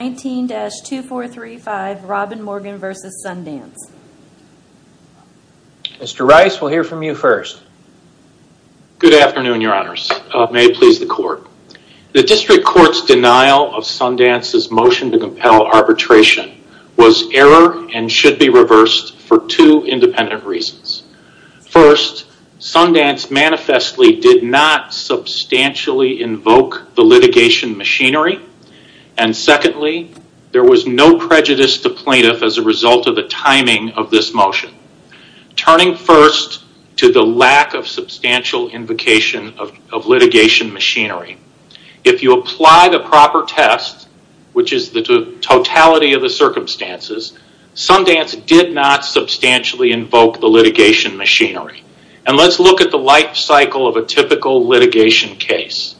19-2435, Robyn Morgan v. Sundance. Mr. Rice, we'll hear from you first. Good afternoon, your honors. May it please the court. The district court's denial of Sundance's motion to compel arbitration was error and should be reversed for two independent reasons. First, Sundance manifestly did not substantially invoke the litigation machinery. And secondly, there was no prejudice to plaintiff as a result of the timing of this motion. Turning first to the lack of substantial invocation of litigation machinery, if you apply the proper test, which is the totality of the circumstances, Sundance did not substantially invoke the litigation machinery. And let's look at the life cycle of a typical litigation case.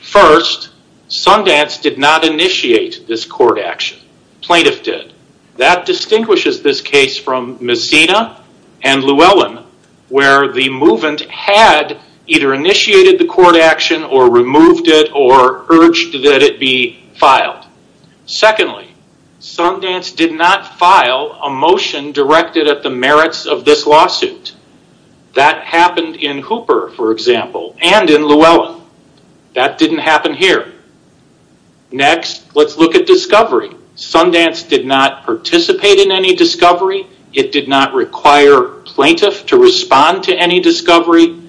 First, Sundance did not initiate this court action. Plaintiff did. That distinguishes this case from Messina and Llewellyn, where the movant had either initiated the court action or removed it or urged that it be filed. Secondly, Sundance did not file a motion directed at the merits of this lawsuit. That happened in Hooper, for example, and in Llewellyn. That didn't happen here. Next, let's look at discovery. Sundance did not participate in any discovery. It did not require plaintiff to respond to any discovery.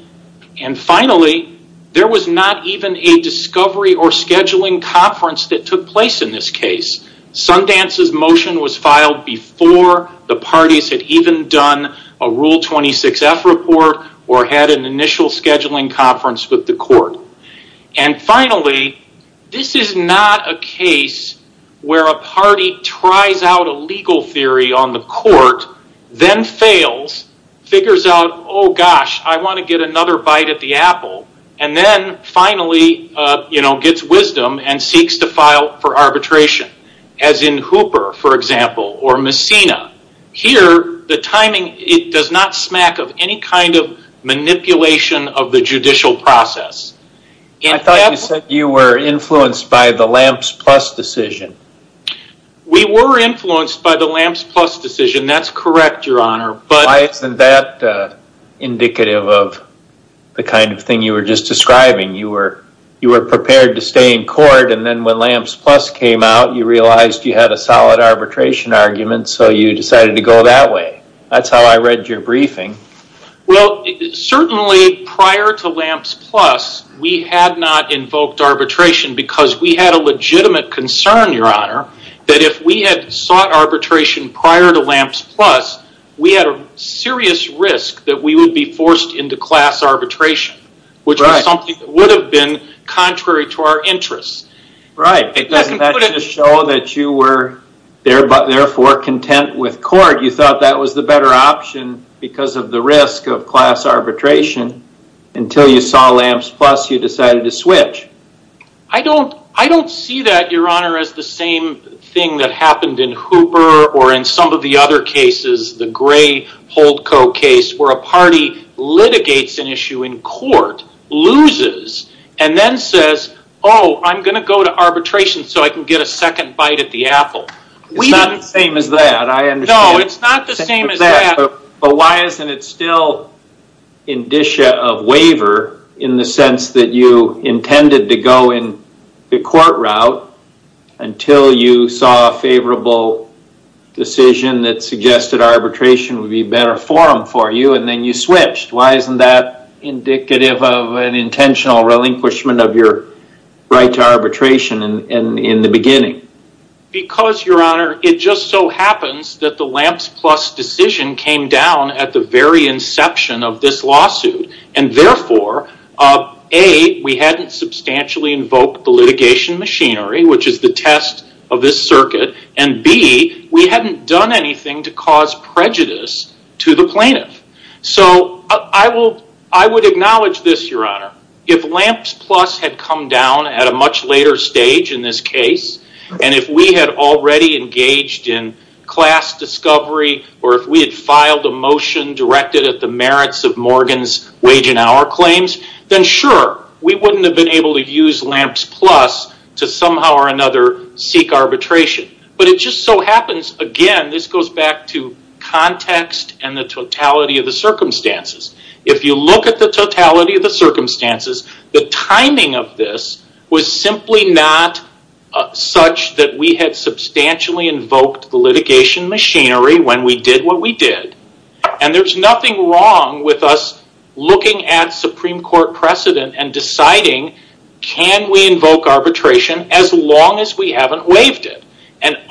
And finally, there was not even a discovery or scheduling conference that took place in this case. Sundance's motion was filed before the parties had even done a Rule 26F report or had an initial scheduling conference with the court. And finally, this is not a case where a party tries out a legal theory on the court, then fails, figures out, oh gosh, I want to get another bite at the apple, and then finally gets wisdom and seeks to file for arbitration, as in Hooper, for example, or Messina. Here, the timing does not smack of any kind of manipulation of the judicial process. I thought you said you were influenced by the Lamps Plus decision. We were influenced by the Lamps Plus decision. That's correct, Your Honor. Why isn't that indicative of the kind of thing you were just describing? You were prepared to stay in court, and then when Lamps Plus came out, you realized you had a solid arbitration argument, so you decided to go that way. That's how I read your briefing. Well, certainly prior to Lamps Plus, we had not invoked arbitration because we had a legitimate concern, Your Honor, that if we had sought arbitration prior to Lamps Plus, we had a serious risk that we would be forced into class arbitration, which was something that would have been contrary to our interests. Right. Doesn't that just show that you were therefore content with court? You thought that was the better option because of the risk of class arbitration. Until you saw Lamps Plus, you decided to switch. I don't see that, Your Honor, as the same thing that happened in Hooper or in some of the other cases, the Gray-Holdco case, where a party litigates an issue in court, loses, and then says, oh, I'm going to go to arbitration so I can get a second bite at the apple. It's not the same as that. I understand. No, it's not the same as that. Why isn't it still indicia of waiver in the sense that you intended to go in the court route until you saw a favorable decision that suggested arbitration would be a better forum for you, and then you switched? Why isn't that indicative of an intentional relinquishment of your right to arbitration in the beginning? Because, Your Honor, it just so happens that the Lamps Plus decision came down at the very inception of this lawsuit, and therefore, A, we hadn't substantially invoked the litigation machinery, which is the test of this circuit, and B, we hadn't done anything to cause prejudice to the plaintiff. I would acknowledge this, Your Honor, if Lamps Plus had come down at a much later stage in this case, and if we had already engaged in class discovery, or if we had filed a motion directed at the merits of Morgan's wage and hour claims, then sure, we wouldn't have been able to use Lamps Plus to somehow or another seek arbitration. It just so happens, again, this goes back to context and the totality of the circumstances. If you look at the totality of the circumstances, the timing of this was simply not such that we had substantially invoked the litigation machinery when we did what we did. There's nothing wrong with us looking at Supreme Court precedent and deciding, can we invoke arbitration as long as we haven't waived it?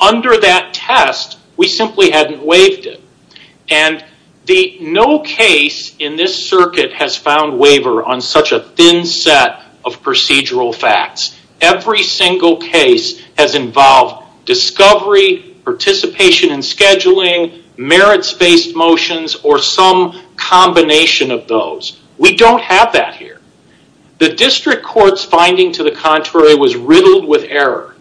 Under that test, we simply hadn't waived it. And no case in this circuit has found waiver on such a thin set of procedural facts. Every single case has involved discovery, participation in scheduling, merits-based motions, or some combination of those. We don't have that here. The district court's finding, to the contrary, was riddled with error.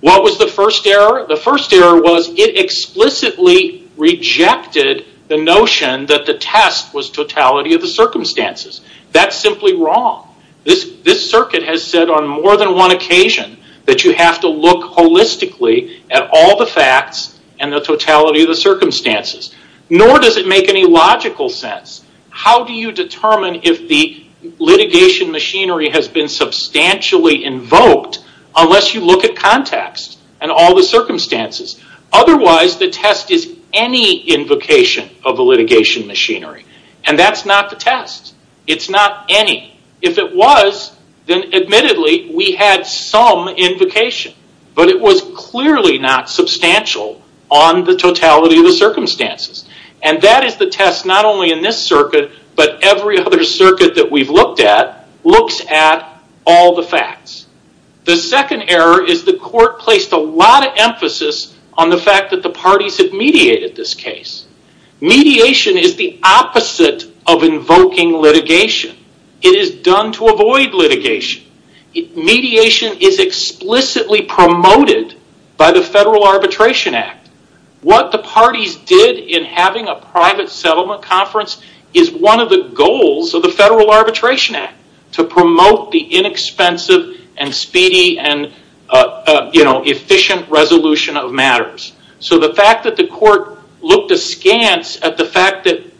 What was the first error? The first error was it explicitly rejected the notion that the test was totality of the circumstances. That's simply wrong. This circuit has said on more than one occasion that you have to look holistically at all the facts and the totality of the circumstances, nor does it make any logical sense. How do you determine if the litigation machinery has been substantially invoked unless you look at context and all the circumstances? Otherwise, the test is any invocation of the litigation machinery. That's not the test. It's not any. If it was, then admittedly, we had some invocation, but it was clearly not substantial on the totality of the circumstances. That is the test not only in this circuit, but every other circuit that we've looked at looks at all the facts. The second error is the court placed a lot of emphasis on the fact that the parties have mediated this case. Mediation is the opposite of invoking litigation. It is done to avoid litigation. Mediation is explicitly promoted by the Federal Arbitration Act. What the parties did in having a private settlement conference is one of the goals of the Federal Arbitration Act, inexpensive and speedy and efficient resolution of matters. The fact that the court looked askance at the fact that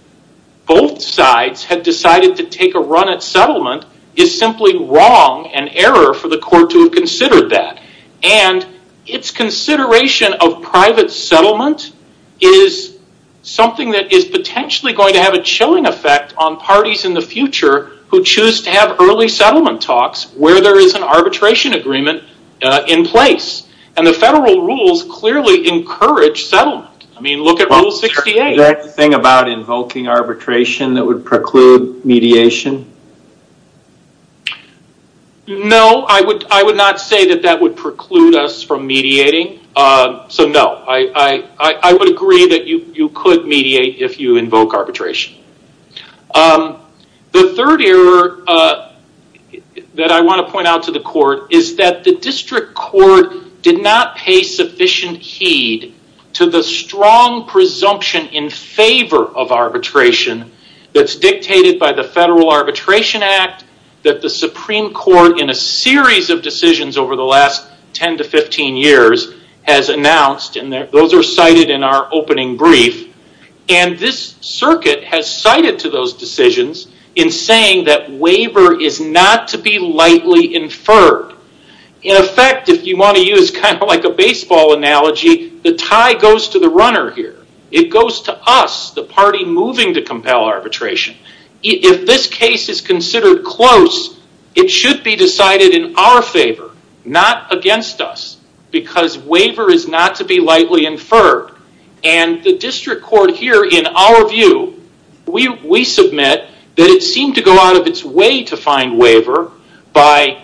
both sides had decided to take a run at settlement is simply wrong and error for the court to have considered that. Its consideration of private settlement is something that is potentially going to have a chilling effect on parties in the future who choose to have early settlement talks where there is an arbitration agreement in place. The federal rules clearly encourage settlement. Look at Rule 68. Is that the thing about invoking arbitration that would preclude mediation? No, I would not say that that would preclude us from mediating, so no. I would agree that you could mediate if you invoke arbitration. The third error that I want to point out to the court is that the district court did not pay sufficient heed to the strong presumption in favor of arbitration that's dictated by the Federal Arbitration Act that the Supreme Court in a series of decisions over the last 10 to 15 years has announced. Those are cited in our opening brief. This circuit has cited to those decisions in saying that waiver is not to be lightly inferred. In effect, if you want to use a baseball analogy, the tie goes to the runner here. It goes to us, the party moving to compel arbitration. If this case is considered close, it should be decided in our favor, not against us, because waiver is not to be lightly inferred. The district court here, in our view, we submit that it seemed to go out of its way to find waiver by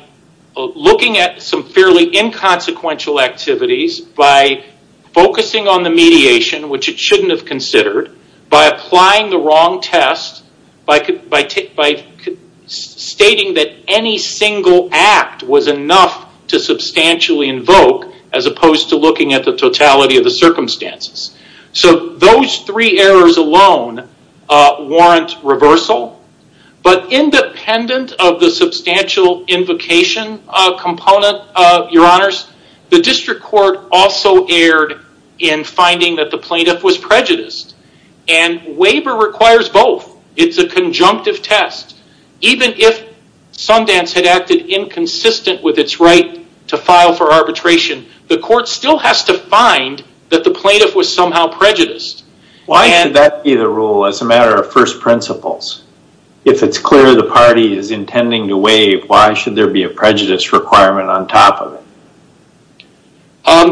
looking at some fairly inconsequential activities, by focusing on the mediation, which it shouldn't have considered, by applying the wrong test, by stating that any single act was enough to substantially invoke, as opposed to looking at the totality of the circumstances. Those three errors alone warrant reversal, but independent of the substantial invocation component, your honors, the district court also erred in finding that the plaintiff was prejudiced. Waiver requires both. It's a conjunctive test. Even if Sundance had acted inconsistent with its right to file for arbitration, the court still has to find that the plaintiff was somehow prejudiced. Why should that be the rule as a matter of first principles? If it's clear the party is intending to waive, why should there be a prejudice requirement on top of it?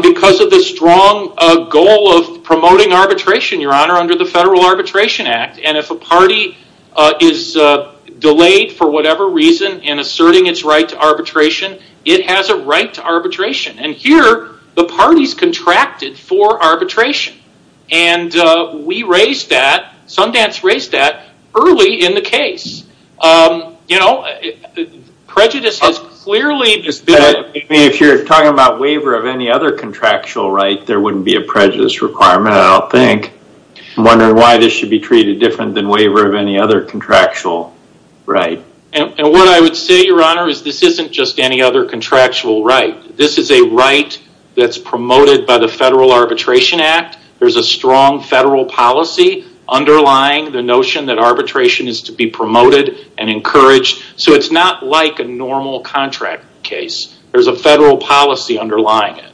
Because of the strong goal of promoting arbitration, your honor, under the Federal Arbitration Act, and if a party is delayed for whatever reason in asserting its right to arbitration, it has a right to arbitration. Here, the parties contracted for arbitration. And we raised that, Sundance raised that, early in the case. Prejudice is clearly... If you're talking about waiver of any other contractual right, there wouldn't be a prejudice requirement, I don't think. I'm wondering why this should be treated different than waiver of any other contractual right. What I would say, your honor, is this isn't just any other contractual right. This is a right that's promoted by the Federal Arbitration Act. There's a strong federal policy underlying the notion that arbitration is to be promoted and encouraged. It's not like a normal contract case. There's a federal policy underlying it.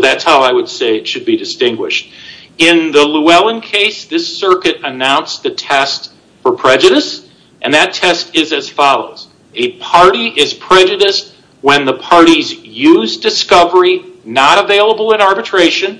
That's how I would say it should be distinguished. In the Llewellyn case, this circuit announced the test for prejudice. That test is as follows. A party is prejudiced when the parties use discovery not available in arbitration,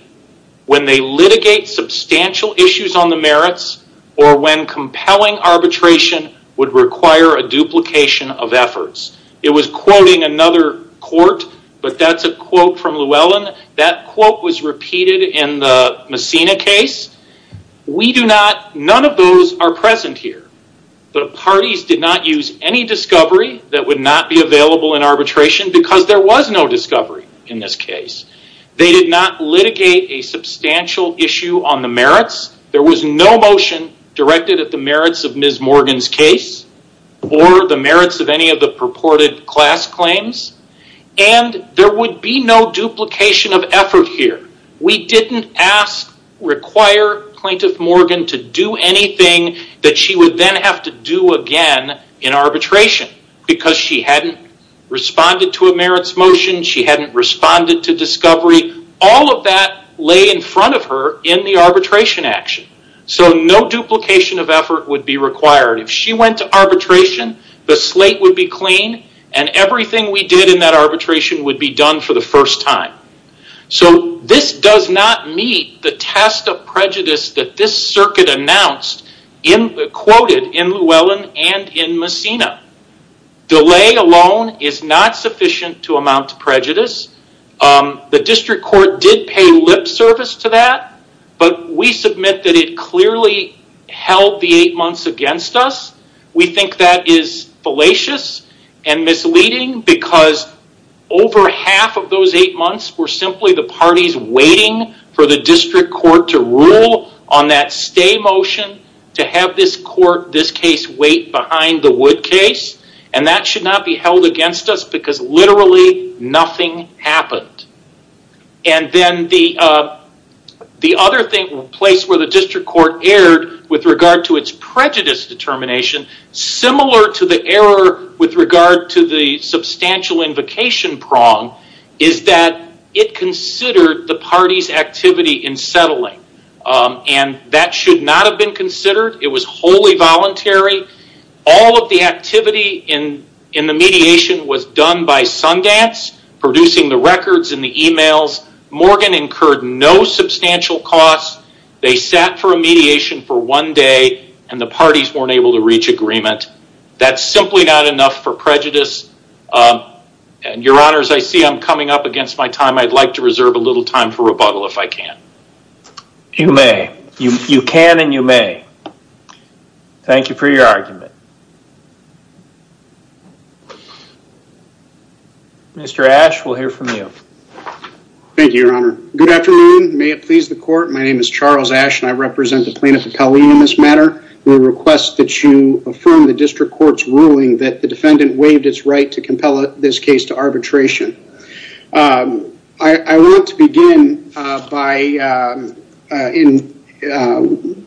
when they litigate substantial issues on the merits, or when compelling arbitration would require a duplication of efforts. It was quoting another court, but that's a quote from Llewellyn. That quote was repeated in the Messina case. We do not, none of those are present here. The parties did not use any discovery that would not be available in arbitration because there was no discovery in this case. They did not litigate a substantial issue on the merits. There was no motion directed at the merits of Ms. Morgan's case, or the merits of any of the purported class claims, and there would be no duplication of effort here. We didn't ask, require plaintiff Morgan to do anything that she would then have to do again in arbitration, because she hadn't responded to a merits motion. She hadn't responded to discovery. All of that lay in front of her in the arbitration action, so no duplication of effort would be required. If she went to arbitration, the slate would be clean, and everything we did in that arbitration would be done for the first time. This does not meet the test of prejudice that this circuit announced, quoted in Llewellyn and in Messina. Delay alone is not sufficient to amount to prejudice. The district court did pay lip service to that, but we submit that it clearly held the eight months against us. We think that is fallacious and misleading, because over half of those eight months were simply the parties waiting for the district court to rule on that stay motion, to have this court, this case, wait behind the Wood case. That should not be held against us, because literally nothing happened. Then the other place where the district court erred with regard to its prejudice determination, similar to the error with regard to the substantial invocation prong, is that it considered the party's activity in settling. That should not have been considered. It was wholly voluntary. All of the activity in the mediation was done by Sundance, producing the records and the emails. Morgan incurred no substantial costs. They sat for a mediation for one day, and the parties weren't able to reach agreement. That's simply not enough for prejudice. Your honors, I see I'm coming up against my time. I'd like to reserve a little time for rebuttal if I can. You may. You can and you may. Thank you for your argument. Mr. Ashe, we'll hear from you. Thank you, your honor. Good afternoon. May it please the court. My name is Charles Ashe, and I represent the plaintiff in this matter. We request that you affirm the district court's ruling that the defendant waived its right to compel this case to arbitration. I want to begin by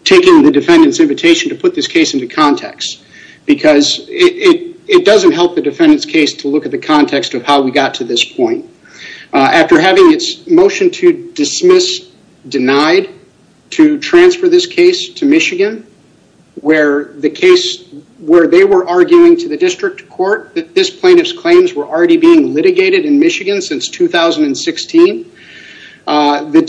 taking the defendant's invitation to put this case into context, because it doesn't help the defendant's case to look at the context of how we got to this point. After having its motion to dismiss denied to transfer this case to Michigan, where the case where they were arguing to the district court that this plaintiff's claims were already being litigated in Michigan since 2016, the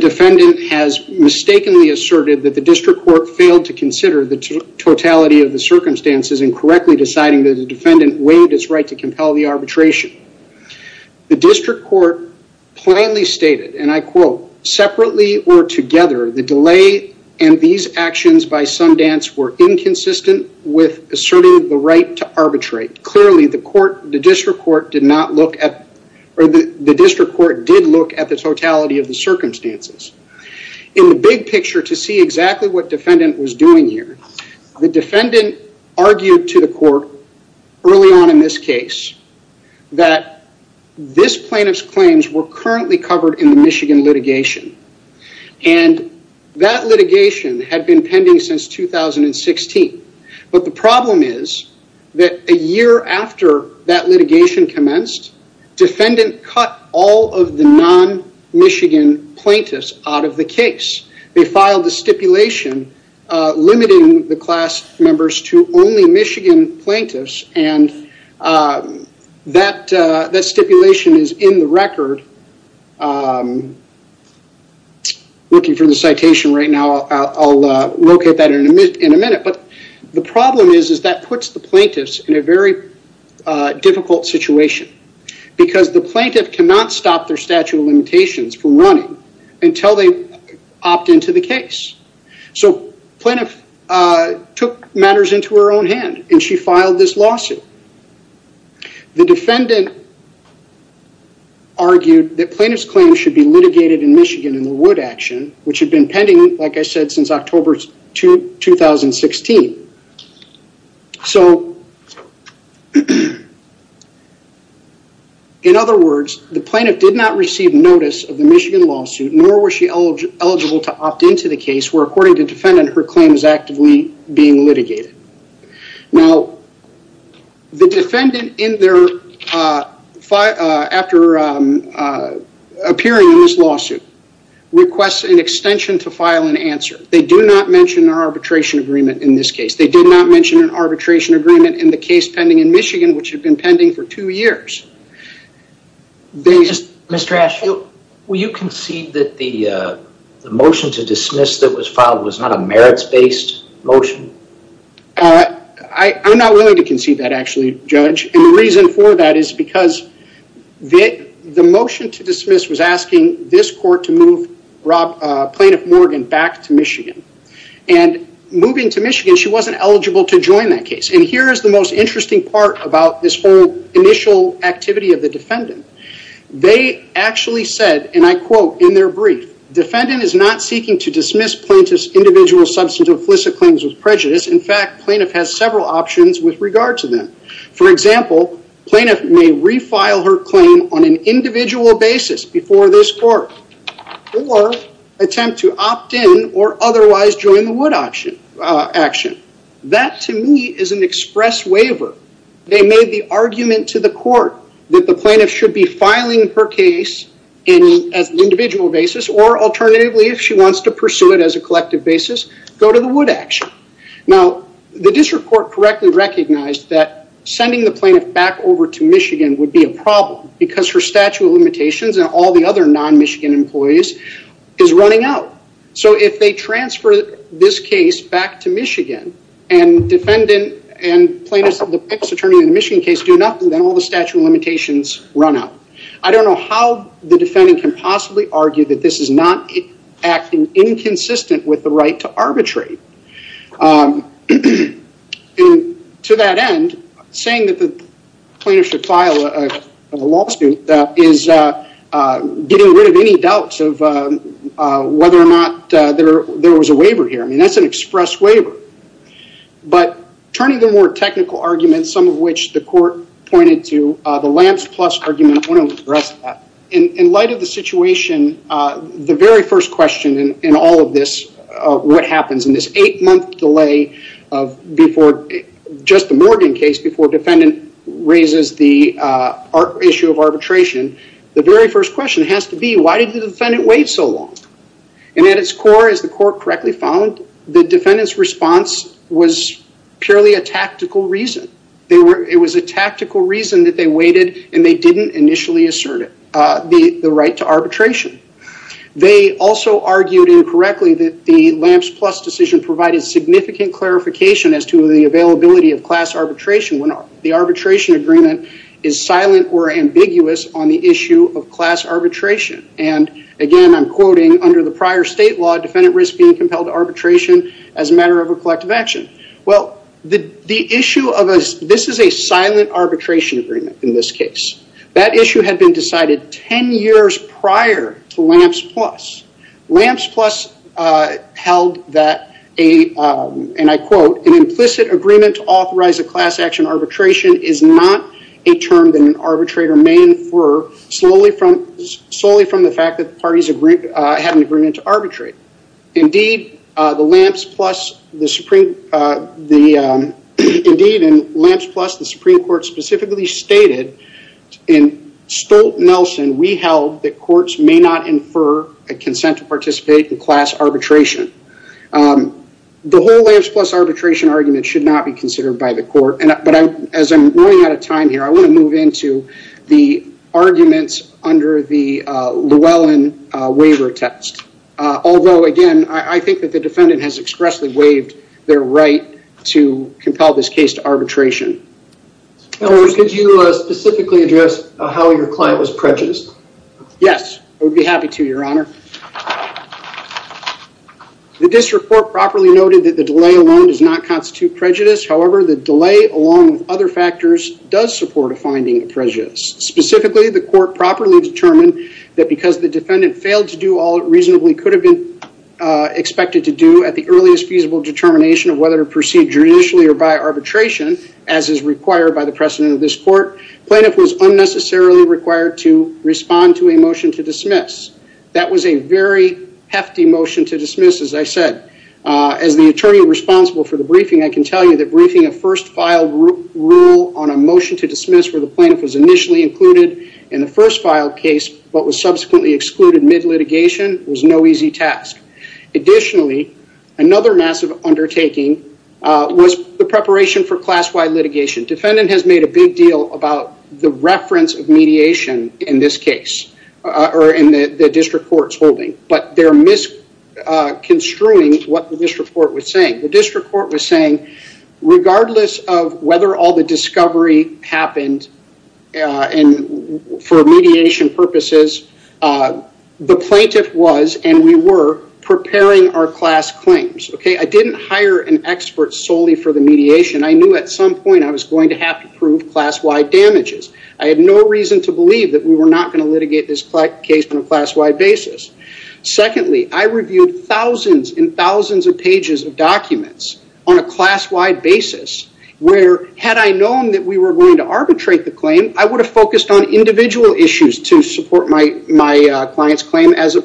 defendant has mistakenly asserted that the district court failed to consider the totality of the circumstances in correctly deciding that the defendant waived its right to compel the arbitration. The district court plainly stated, and I quote, separately or together, the delay and these the district court did look at the totality of the circumstances. In the big picture, to see exactly what defendant was doing here, the defendant argued to the court early on in this case that this plaintiff's claims were currently covered in the Michigan litigation. That litigation had been pending since 2016, but the problem is that a year after that litigation commenced, defendant cut all of the non-Michigan plaintiffs out of the case. They filed a stipulation limiting the class members to only Michigan plaintiffs, and that looking for the citation right now, I'll locate that in a minute. But the problem is that puts the plaintiffs in a very difficult situation because the plaintiff cannot stop their statute of limitations from running until they opt into the case. So plaintiff took matters into her own hand and she filed this lawsuit. The defendant argued that plaintiff's claims should be litigated in Michigan in the Wood action, which had been pending, like I said, since October 2016. So in other words, the plaintiff did not receive notice of the Michigan lawsuit, nor was she eligible to opt into the case where, according to defendant, her claim is actively being litigated. Now, the defendant, after appearing in this lawsuit, requests an extension to file an answer. They do not mention an arbitration agreement in this case. They did not mention an arbitration agreement in the case pending in Michigan, which had been pending for two years. Mr. Ashe, will you concede that the motion to dismiss that was filed was not a merits-based motion? I'm not willing to concede that, actually, Judge. And the reason for that is because the motion to dismiss was asking this court to move plaintiff Morgan back to Michigan. And moving to Michigan, she wasn't eligible to join that case. And here is the most interesting part about this whole initial activity of the defendant. They actually said, and I quote in their brief, defendant is not seeking to dismiss plaintiff's individual substantive implicit claims with prejudice. In fact, plaintiff has several options with regard to them. For example, plaintiff may refile her claim on an individual basis before this court, or attempt to opt in or otherwise join the Wood action. That, to me, is an express waiver. They made the argument to the court that the plaintiff should be filing her case on an exclusive collective basis, go to the Wood action. Now, the district court correctly recognized that sending the plaintiff back over to Michigan would be a problem, because her statute of limitations and all the other non-Michigan employees is running out. So, if they transfer this case back to Michigan, and plaintiff's attorney in the Michigan case do nothing, then all the statute of limitations run out. I don't know how the defendant can possibly argue that this is not acting inconsistent with the right to arbitrate. To that end, saying that the plaintiff should file a lawsuit is getting rid of any doubts of whether or not there was a waiver here. I mean, that's an express waiver. But turning to more technical arguments, some of which the court pointed to, the Lance Plus argument, I want to address that. In light of the situation, the very first question in all of this, what happens in this eight-month delay of just the Morgan case before defendant raises the issue of arbitration, the very first question has to be, why did the defendant wait so long? At its core, as the court correctly found, the defendant's response was purely a tactical reason. It was a tactical reason that they waited, and they didn't initially assert the right to arbitration. They also argued incorrectly that the Lance Plus decision provided significant clarification as to the availability of class arbitration when the arbitration agreement is silent or ambiguous on the issue of class arbitration. And, again, I'm quoting, under the prior state law, defendant risk being compelled to arbitration as a matter of a collective action. Well, this is a silent arbitration agreement in this case. That issue had been decided 10 years prior to Lance Plus. Lance Plus held that, and I quote, an implicit agreement to authorize a class action arbitration is not a term that an arbitrator may infer solely from the fact that the parties have an agreement to arbitrate. Indeed, in Lance Plus, the Supreme Court specifically stated, in Stolt-Nelson, we held that courts may not infer a consent to participate in class arbitration. The whole Lance Plus arbitration argument should not be considered by the court. But as I'm running out of time here, I want to move into the arguments under the Llewellyn waiver text. Although, again, I think that the defendant has expressly waived their right to compel this case to arbitration. Counselors, could you specifically address how your client was prejudiced? Yes. I would be happy to, Your Honor. The district court properly noted that the delay alone does not constitute prejudice. However, the delay, along with other factors, does support a finding of prejudice. Specifically, the court properly determined that because the defendant failed to do all it reasonably could have been expected to do at the earliest feasible determination of whether to proceed judicially or by arbitration, as is required by the precedent of this court, plaintiff was unnecessarily required to respond to a motion to dismiss. That was a very hefty motion to dismiss, as I said. As the attorney responsible for the briefing, I can tell you that briefing a first file rule on a motion to dismiss where the plaintiff was initially included in the first file case, but was subsequently excluded mid-litigation, was no easy task. Additionally, another massive undertaking was the preparation for class-wide litigation. Defendant has made a big deal about the reference of mediation in this case, or in the district court's holding, but they're misconstruing what the district court was saying. The district court was saying, regardless of whether all the discovery happened for mediation purposes, the plaintiff was, and we were, preparing our class claims. I didn't hire an expert solely for the mediation. I knew at some point I was going to have to prove class-wide damages. I had no reason to believe that we were not going to litigate this case on a class-wide basis. Secondly, I reviewed thousands and thousands of pages of documents on a class-wide basis, where had I known that we were going to arbitrate the claim, I would have focused on individual issues to support my client's claim, as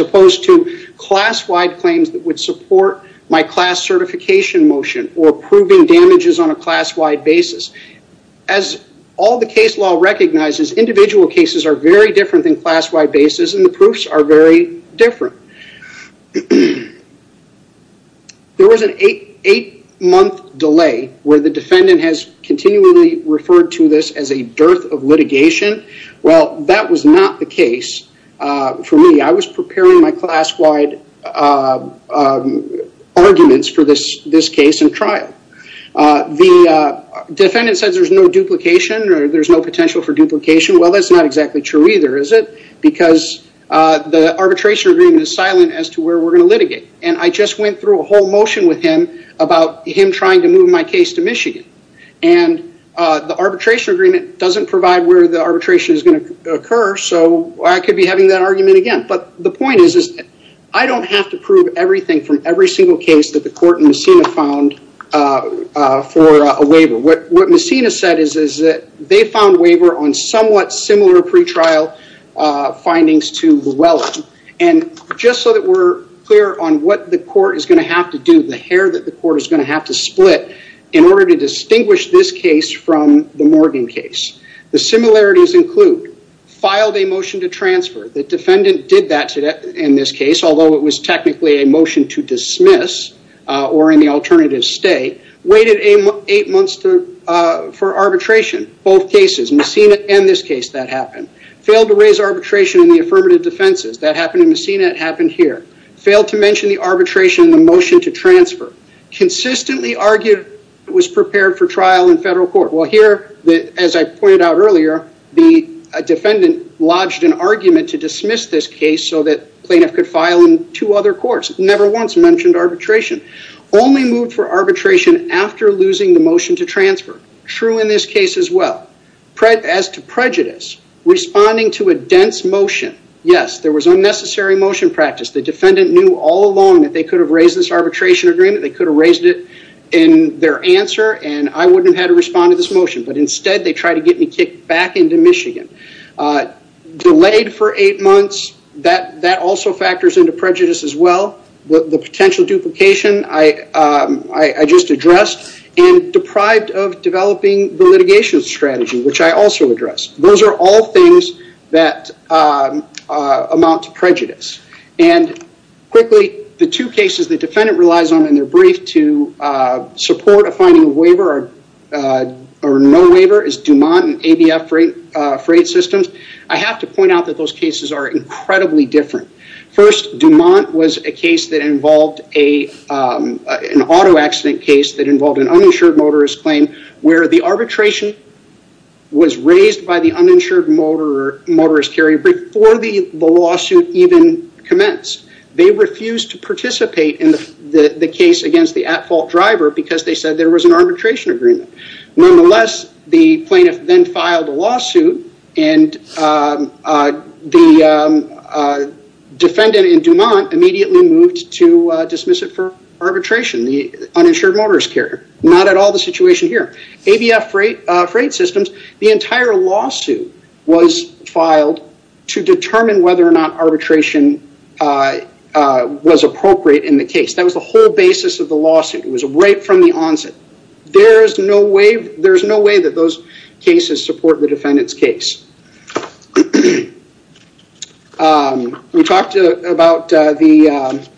opposed to class-wide claims that would support my class certification motion, or proving damages on a class-wide basis. As all the case law recognizes, individual cases are very different than class-wide basis, and the proofs are very different. There was an eight-month delay where the defendant has continually referred to this as a dearth of litigation. That was not the case for me. I was preparing my class-wide arguments for this case in trial. The defendant says there's no duplication, or there's no potential for duplication. Well, that's not exactly true either, is it? Because the arbitration agreement is silent as to where we're going to litigate. I just went through a whole motion with him about him trying to move my case to Michigan. The arbitration agreement doesn't provide where the arbitration is going to occur, so I could be having that argument again. The point is I don't have to prove everything from every single case that the court in Messina found for a waiver. What Messina said is that they found waiver on somewhat similar pretrial findings to Llewellyn. Just so that we're clear on what the court is going to have to do, the hair that the court is going to have to split in order to distinguish this case from the Morgan case, the similarities include filed a motion to transfer. The defendant did that in this case, although it was technically a motion to dismiss, or in the alternative, stay. Waited eight months for arbitration. Both cases, Messina and this case, that happened. Failed to raise arbitration in the affirmative defenses. That happened in Messina. It happened here. Failed to mention the arbitration in the motion to transfer. Consistently argued it was prepared for trial in federal court. Well, here, as I pointed out earlier, the defendant lodged an argument to dismiss this case so that plaintiff could file in two other courts. Never once mentioned arbitration. Only moved for arbitration after losing the motion to transfer. True in this case as well. As to prejudice, responding to a dense motion, yes, there was unnecessary motion practice. The defendant knew all along that they could have raised this arbitration agreement. They could have raised it in their answer, and I wouldn't have had to respond to this motion. But instead, they tried to get me kicked back into Michigan. Delayed for eight months. That also factors into prejudice as well. The potential duplication I just addressed, and deprived of developing the litigation strategy, which I also addressed. Those are all things that amount to prejudice. And quickly, the two cases the defendant relies on in their brief to support a finding of waiver or no waiver is Dumont and ABF Freight Systems. I have to point out that those cases are incredibly different. First, Dumont was a case that involved an auto accident case that involved an uninsured motorist claim where the arbitration was raised by the uninsured motorist carrier before the lawsuit even commenced. They refused to participate in the case against the at-fault driver because they said there was an arbitration agreement. Nonetheless, the plaintiff then filed a lawsuit, and the defendant in Dumont immediately moved to dismiss it for arbitration, the uninsured motorist carrier. Not at all the situation here. ABF Freight Systems, the entire lawsuit was filed to determine whether or not arbitration was appropriate in the case. That was the whole basis of the lawsuit. It was right from the onset. There's no way that those cases support the defendant's case. We talked about the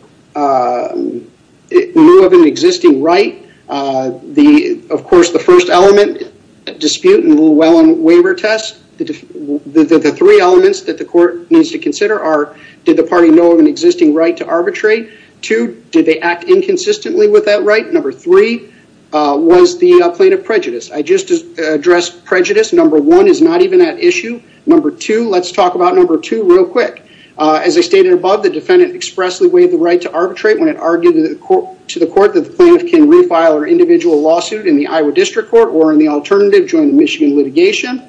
new of an existing right. Of course, the first element, dispute and Llewellyn waiver test, the three elements that the court needs to consider are, did the party know of an existing right to arbitrate? Two, did they act inconsistently with that right? Number three, was the plaintiff prejudiced? I just addressed prejudice. Number one is not even at issue. Number two, let's talk about number two real quick. As I stated above, the defendant expressly waived the right to arbitrate when it argued to the court that the plaintiff can refile her individual lawsuit in the Iowa District Court or in the alternative joint Michigan litigation.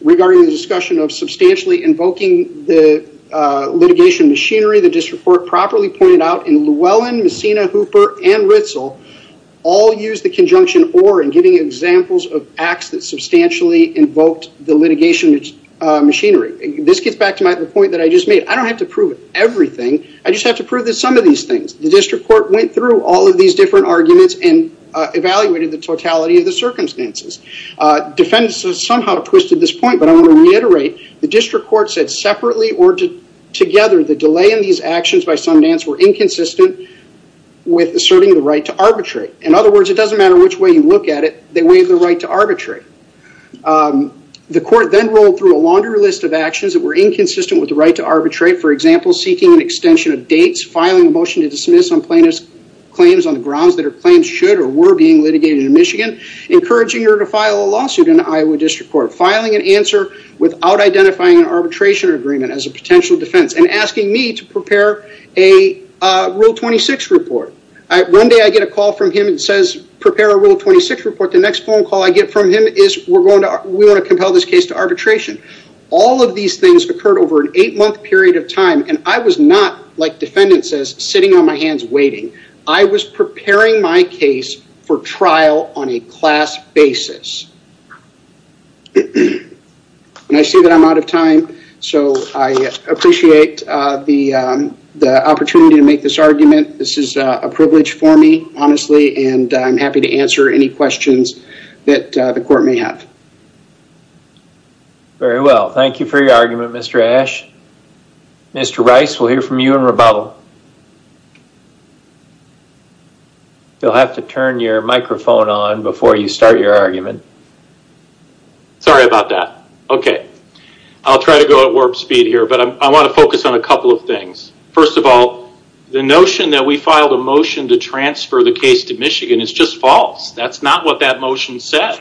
Regarding the discussion of substantially invoking the litigation machinery, the District Court properly pointed out in Llewellyn, Messina, Hooper, and Ritzel, all used the conjunction or in giving examples of acts that substantially invoked the litigation machinery. This gets back to my point that I just made. I don't have to prove everything. I just have to prove some of these things. The District Court went through all of these different arguments and evaluated the totality of the circumstances. Defendants have somehow twisted this point, but I want to reiterate. The District Court said separately or together, the delay in these actions by Sundance were inconsistent with asserting the right to arbitrate. In other words, it doesn't matter which way you look at it. They waived the right to arbitrate. The court then rolled through a laundry list of actions that were inconsistent with the right to arbitrate. For example, seeking an extension of dates, filing a motion to dismiss on plaintiff's claims on the grounds that her claims should or were being litigated in Michigan, encouraging her to file a lawsuit in the Iowa District Court, filing an answer without identifying an arbitration agreement as a potential defense, and asking me to prepare a Rule 26 report. One day I get a call from him that says, prepare a Rule 26 report. The next phone call I get from him is, we want to compel this case to arbitration. All of these things occurred over an eight-month period of time, and I was not, like defendant says, sitting on my hands waiting. I was preparing my case for trial on a class basis. And I see that I'm out of time, so I appreciate the opportunity to make this argument. This is a privilege for me, honestly, and I'm happy to answer any questions that the court may have. Very well. Thank you for your argument, Mr. Ashe. Mr. Rice, we'll hear from you in rebuttal. You'll have to turn your microphone on before you start your argument. Sorry about that. Okay. I'll try to go at warp speed here, but I want to focus on a couple of things. First of all, the notion that we filed a motion to transfer the case to Michigan is just false. That's not what that motion said.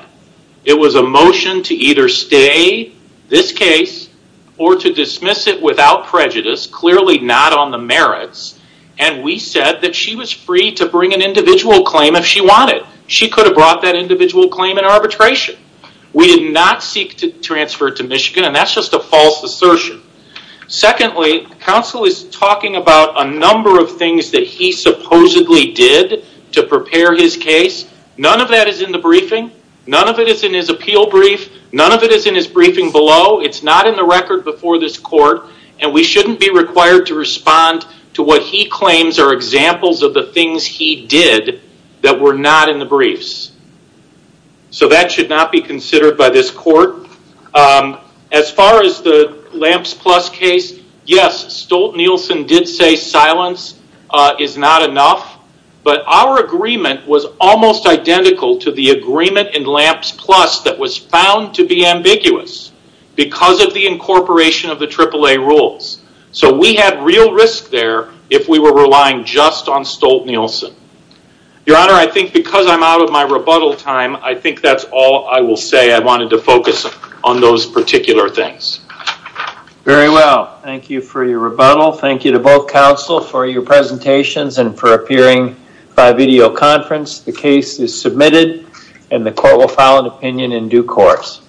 It was a motion to either stay this case or to dismiss it without prejudice, clearly not on the merits. And we said that she was free to bring an individual claim if she wanted. She could have brought that individual claim in arbitration. We did not seek to transfer it to Michigan, and that's just a false assertion. Secondly, counsel is talking about a number of things that he supposedly did to prepare his case. None of that is in the briefing. None of it is in his appeal brief. None of it is in his briefing below. It's not in the record before this court, and we shouldn't be required to respond to what he claims are examples of the things he did that were not in the briefs. So that should not be considered by this court. As far as the LAMPS Plus case, yes, Stolt-Nielsen did say silence is not enough, but our agreement was almost identical to the agreement in LAMPS Plus that was found to be ambiguous because of the incorporation of the AAA rules. So we had real risk there if we were relying just on Stolt-Nielsen. Your Honor, I think because I'm out of my rebuttal time, I think that's all I will say. I wanted to focus on those particular things. Very well. Thank you for your rebuttal. Thank you to both counsel for your presentations and for appearing by videoconference. The case is submitted, and the court will file an opinion in due course.